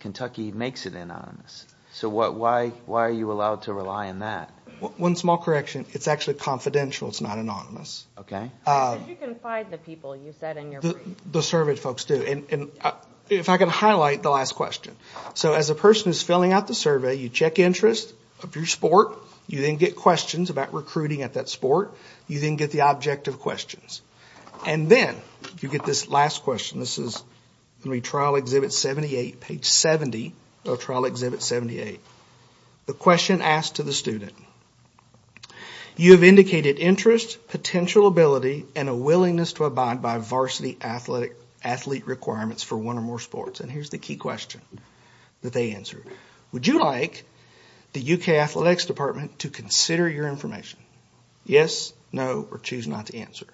kentucky makes it anonymous so what why are you allowed to rely on that one small correction it's actually confidential it's not anonymous okay uh you can find the people you said in your the survey folks do and and if i can highlight the last question so as a person who's filling out the survey you check interest of your sport you then get questions about recruiting at that sport you then get the objective questions and then you get this last question this is going to be trial exhibit 78 page 70 of trial exhibit 78 the question asked to the student you have indicated interest potential ability and a willingness to abide by varsity athletic athlete requirements for one or more sports and here's the key question that they answer would you like the uk athletics department to consider your information yes no or choose not to answer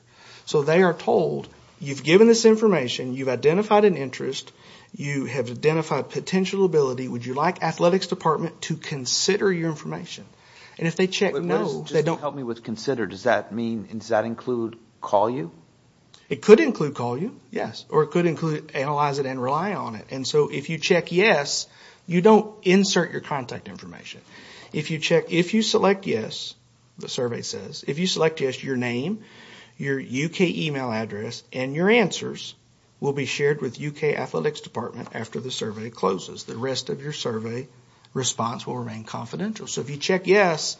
so they are told you've given this information you've identified an interest you have identified potential ability would you like athletics department to consider your information and if they check no they don't help me with consider does that mean does that include call you it could include call you yes or it could include analyze it and rely on it and so if you check yes you don't insert your contact information if you check if you select yes the survey says if you select yes your name your uk email address and your answers will be shared with uk athletics department after the survey closes the rest of your survey response will remain confidential so if you check yes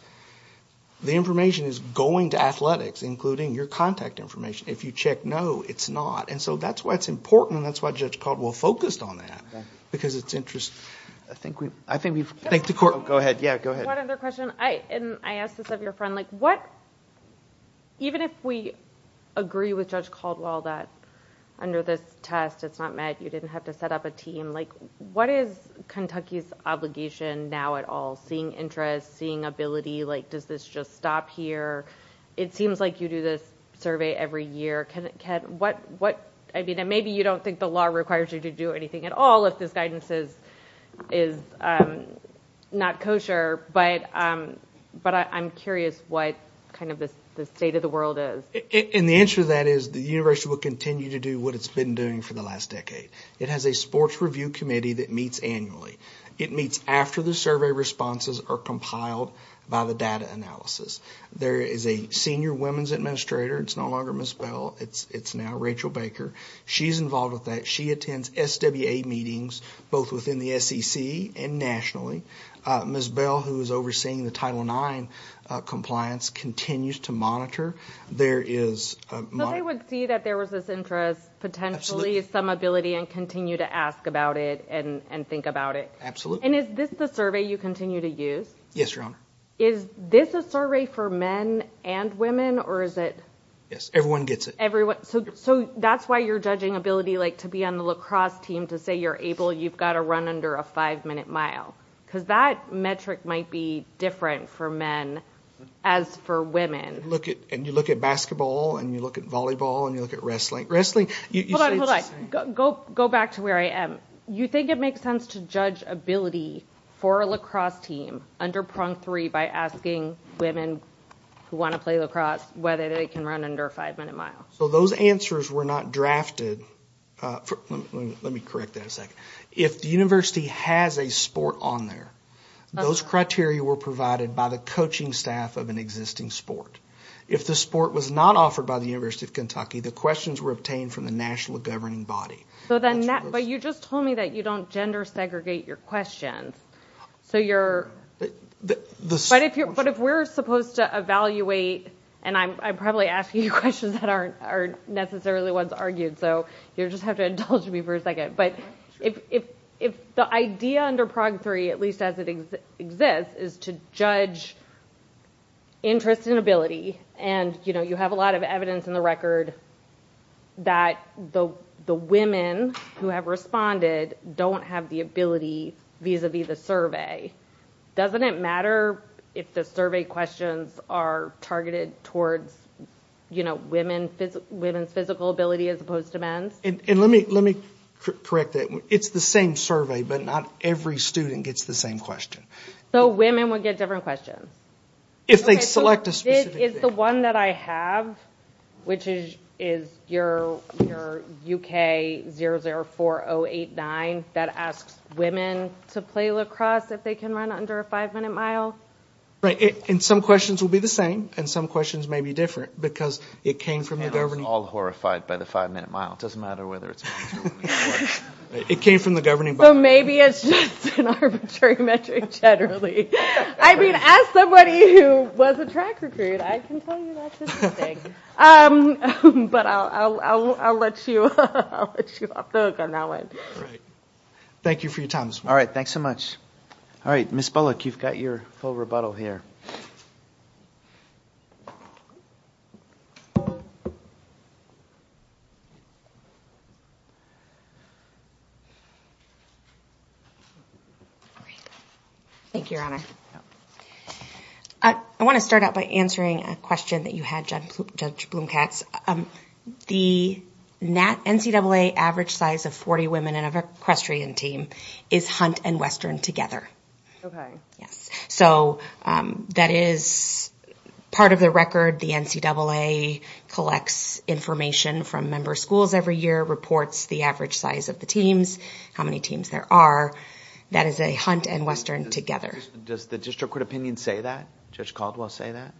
the information is going to athletics including your contact information if you check no it's not and so that's why it's important and that's why judge caldwell focused on that because it's interesting i think we i think we thank the court go ahead yeah go ahead one other question i and i asked this of your friend like what even if we agree with judge caldwell that under this test it's not met you didn't have to set up a team like what is kentucky's obligation now at all seeing interest seeing ability like does this just stop here it seems like you do this survey every year can it can what what i mean and maybe you don't think the law requires you to do anything at all if this guidance is is um not kosher but um but i'm curious what kind of the state of the world is and the answer to that is the university will continue to do what it's been doing for the last decade it has a sports review committee that meets annually it meets after the survey responses are compiled by the data analysis there is a senior women's administrator it's no longer miss bell it's it's rachel baker she's involved with that she attends swa meetings both within the sec and nationally uh miss bell who is overseeing the title nine uh compliance continues to monitor there is i would see that there was this interest potentially some ability and continue to ask about it and and think about it absolutely and is this the survey you continue to use yes your honor is this a survey for men and women or is it yes everyone gets it everyone so so that's why you're judging ability like to be on the lacrosse team to say you're able you've got to run under a five minute mile because that metric might be different for men as for women look at and you look at basketball and you look at volleyball and you look at wrestling wrestling hold on hold on go go back to where i am you think it makes sense to judge ability for a lacrosse team under prong three by asking women who want to play lacrosse whether they can run under a five minute mile so those answers were not drafted uh let me correct that a second if the university has a sport on there those criteria were provided by the coaching staff of an existing sport if the sport was not offered by the university of kentucky the questions were obtained from the national governing body so then that but you just told me that you don't gender segregate your questions so you're but if you're but if we're supposed to evaluate and i'm probably asking you questions that aren't are necessarily ones argued so you just have to indulge me for a second but if if if the idea under prog three at least as it exists is to judge interest in ability and you know you have a lot of evidence in the record that the the women who have responded don't have the ability vis-a-vis the survey doesn't it matter if the survey questions are targeted towards you know women women's physical ability as opposed to men's and let me let me correct that it's the same survey but not every student gets the same question so women would get different questions if they select a specific is the one that i have which is is your your uk 004089 that asks women to play lacrosse if they can run under a five minute mile right and some questions will be the same and some questions may be different because it came from the government all horrified by the five minute mile it doesn't matter whether it's it came from the governing but maybe it's just an arbitrary metric generally i mean as somebody who was a track recruit i can tell you that's interesting um but i'll i'll i'll let you i'll let you off the hook on that one all right thank you for your time all right thanks so much all right miss bullock you've got your full rebuttal here all right thank you your honor i i want to start out by answering a question that you had judge bloom cats um the nat ncaa average size of 40 women in a equestrian team is hunt and western together okay yes so um that is part of the record the ncaa collects information from member schools every year reports the average size of the teams how many teams there are that is a hunt and western together does the district court opinion say that judge caldwell say that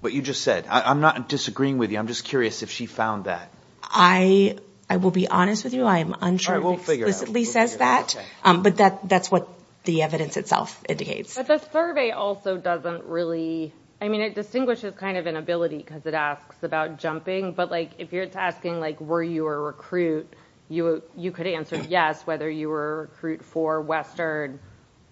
what you just said i'm not disagreeing with you i'm just curious if she found that i i will be honest with you i am unsure we'll figure explicitly says that um but that that's what the evidence itself indicates but the survey also doesn't really i mean it distinguishes kind of inability because it asks about jumping but like if you're asking like were you a recruit you you could answer yes whether you were recruit for western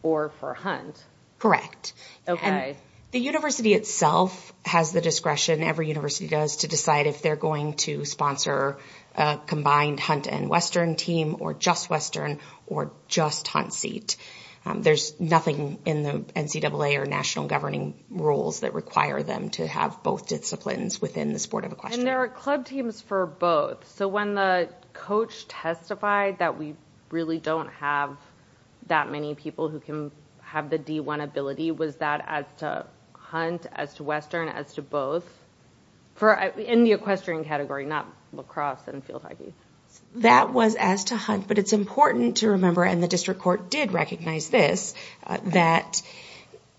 or for hunt correct okay the university itself has the discretion every university does to decide if they're going to sponsor a combined hunt and western team or just western or just hunt seat there's nothing in the ncaa or national governing rules that require them to have both disciplines within the sport of a question there are club teams for both so when the coach testified that we really don't have that many people who can have the d1 ability was that as to hunt as to western as to both for in the equestrian category not lacrosse and field hockey that was as to hunt but it's important to remember and the district court did recognize this that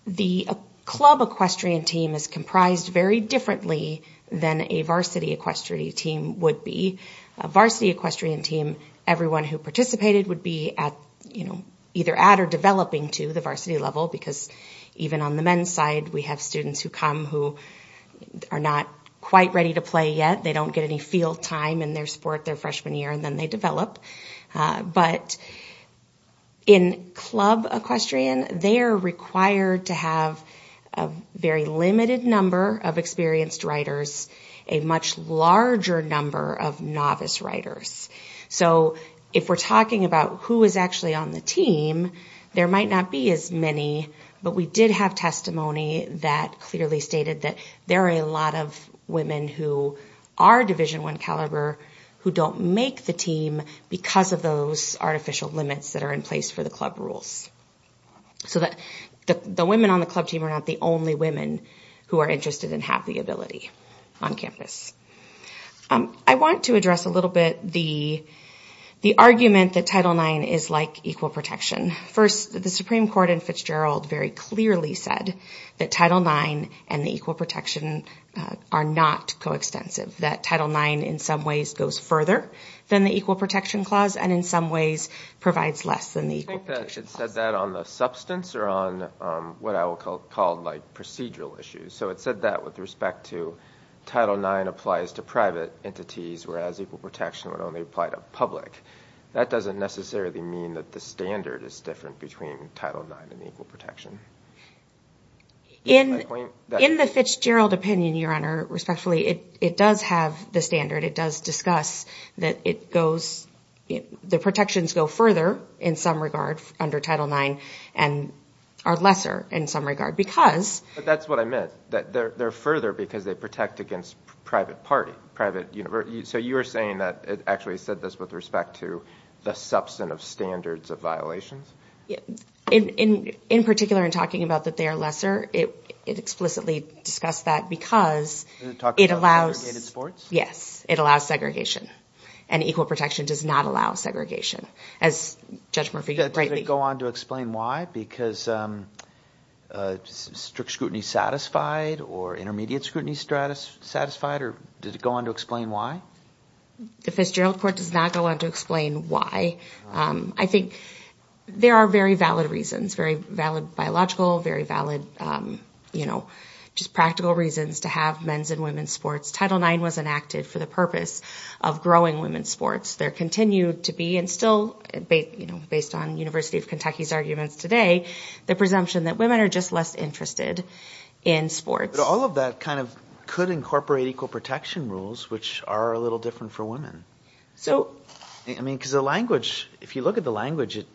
the club equestrian team is comprised very differently than a varsity equestrian team would be a varsity equestrian team everyone who participated would be at you know at or developing to the varsity level because even on the men's side we have students who come who are not quite ready to play yet they don't get any field time in their sport their freshman year and then they develop but in club equestrian they are required to have a very limited number of experienced writers a much larger number of novice writers so if we're talking about who is actually on the team there might not be as many but we did have testimony that clearly stated that there are a lot of women who are division one caliber who don't make the team because of those artificial limits that are in place for the club rules so that the women on the club team are not the only women who are interested in have the ability on campus i want to address a little bit the the argument that title nine is like equal protection first the supreme court and fitzgerald very clearly said that title nine and the equal protection are not coextensive that title nine in some ways goes further than the equal protection clause and in some ways provides less than the equal protection said that on the substance or on what i will call called like procedural issues so it said that with respect to title nine applies to private entities whereas equal protection would apply to public that doesn't necessarily mean that the standard is different between title nine and equal protection in in the fitzgerald opinion your honor respectfully it it does have the standard it does discuss that it goes the protections go further in some regard under title nine and are lesser in some regard because but that's what i meant that they're further because they protect against private party private university so you were saying that it actually said this with respect to the substance of standards of violations in in in particular in talking about that they are lesser it it explicitly discussed that because it allows yes it allows segregation and equal protection does not allow segregation as judge murphy greatly go on to explain why because um uh strict scrutiny satisfied or intermediate scrutiny status satisfied or did it go on to explain why the fitzgerald court does not go on to explain why um i think there are very valid reasons very valid biological very valid um you know just practical reasons to have men's and women's sports title nine was enacted for the purpose of growing women's sports there continued to be and still you know based on university of kentucky's arguments today the presumption that women are just less interested in sports all of that kind of could incorporate equal protection rules which are a little different for women so i mean because the language if you look at the language it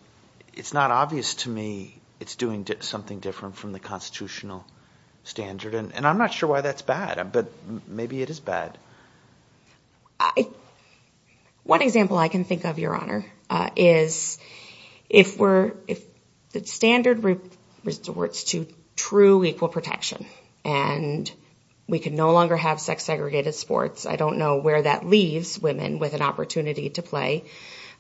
it's not obvious to me it's doing something different from the constitutional standard and i'm not sure why that's bad but maybe it is bad i one example i can think of your honor uh is if we're if the standard resorts to true equal protection and we can no longer have sex segregated sports i don't know where that leaves women with an opportunity to play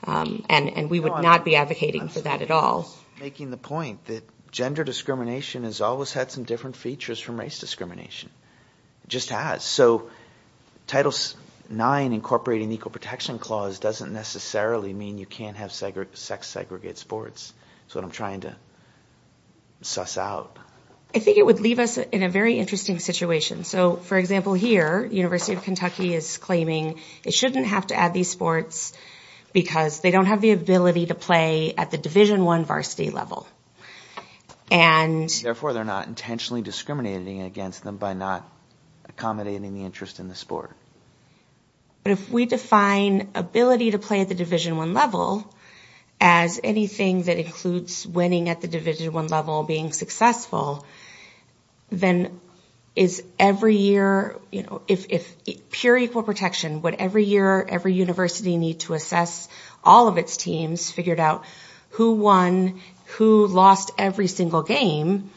um and and we would not be advocating for that at all making the point that gender discrimination has always had some different features from race discrimination just has so title nine incorporating equal protection clause doesn't necessarily mean you can't have sex segregate sports that's what i'm trying to suss out i think it would leave us in a very interesting situation so for example here university of kentucky is claiming it shouldn't have to add these sports because they don't have the ability to play at the division one varsity level and therefore they're not intentionally discriminating against them by not accommodating the interest in the sport but if we define ability to play at the division one level as anything that includes winning at the division one level being successful then is every year you know if if pure equal protection would every year every university need to assess all of its teams figured out who won who lost every single game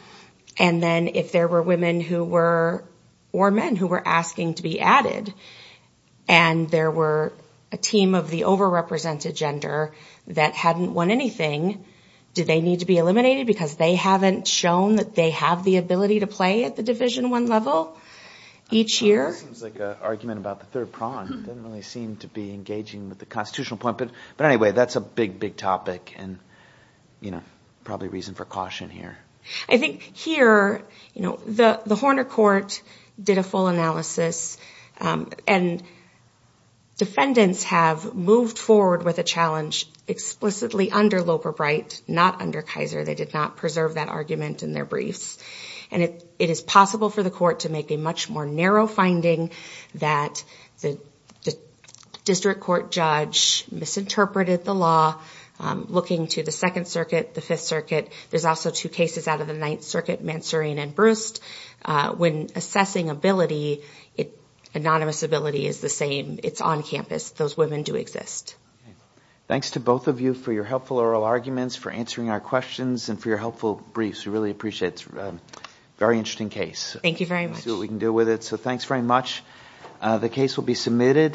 and then if there were women who were or men who were asking to be added and there were a team of the over-represented gender that hadn't won anything did they need to be eliminated because they haven't shown that they have the ability to play at the division one level each year seems like a argument about the third prong doesn't really seem to be engaging with the constitutional point but but anyway that's a big big topic and you know probably reason for caution here i think here you know the the horner court did a full analysis and defendants have moved forward with a challenge explicitly under loper bright not under kaiser they did not preserve that argument in their briefs and it it is possible for the court to make a much more narrow finding that the district court judge misinterpreted the looking to the second circuit the fifth circuit there's also two cases out of the ninth circuit mansourian and brust when assessing ability it anonymous ability is the same it's on campus those women do exist thanks to both of you for your helpful oral arguments for answering our questions and for your helpful briefs we really appreciate it very interesting case thank you very much so we can deal with it so thanks very much the case will be submitted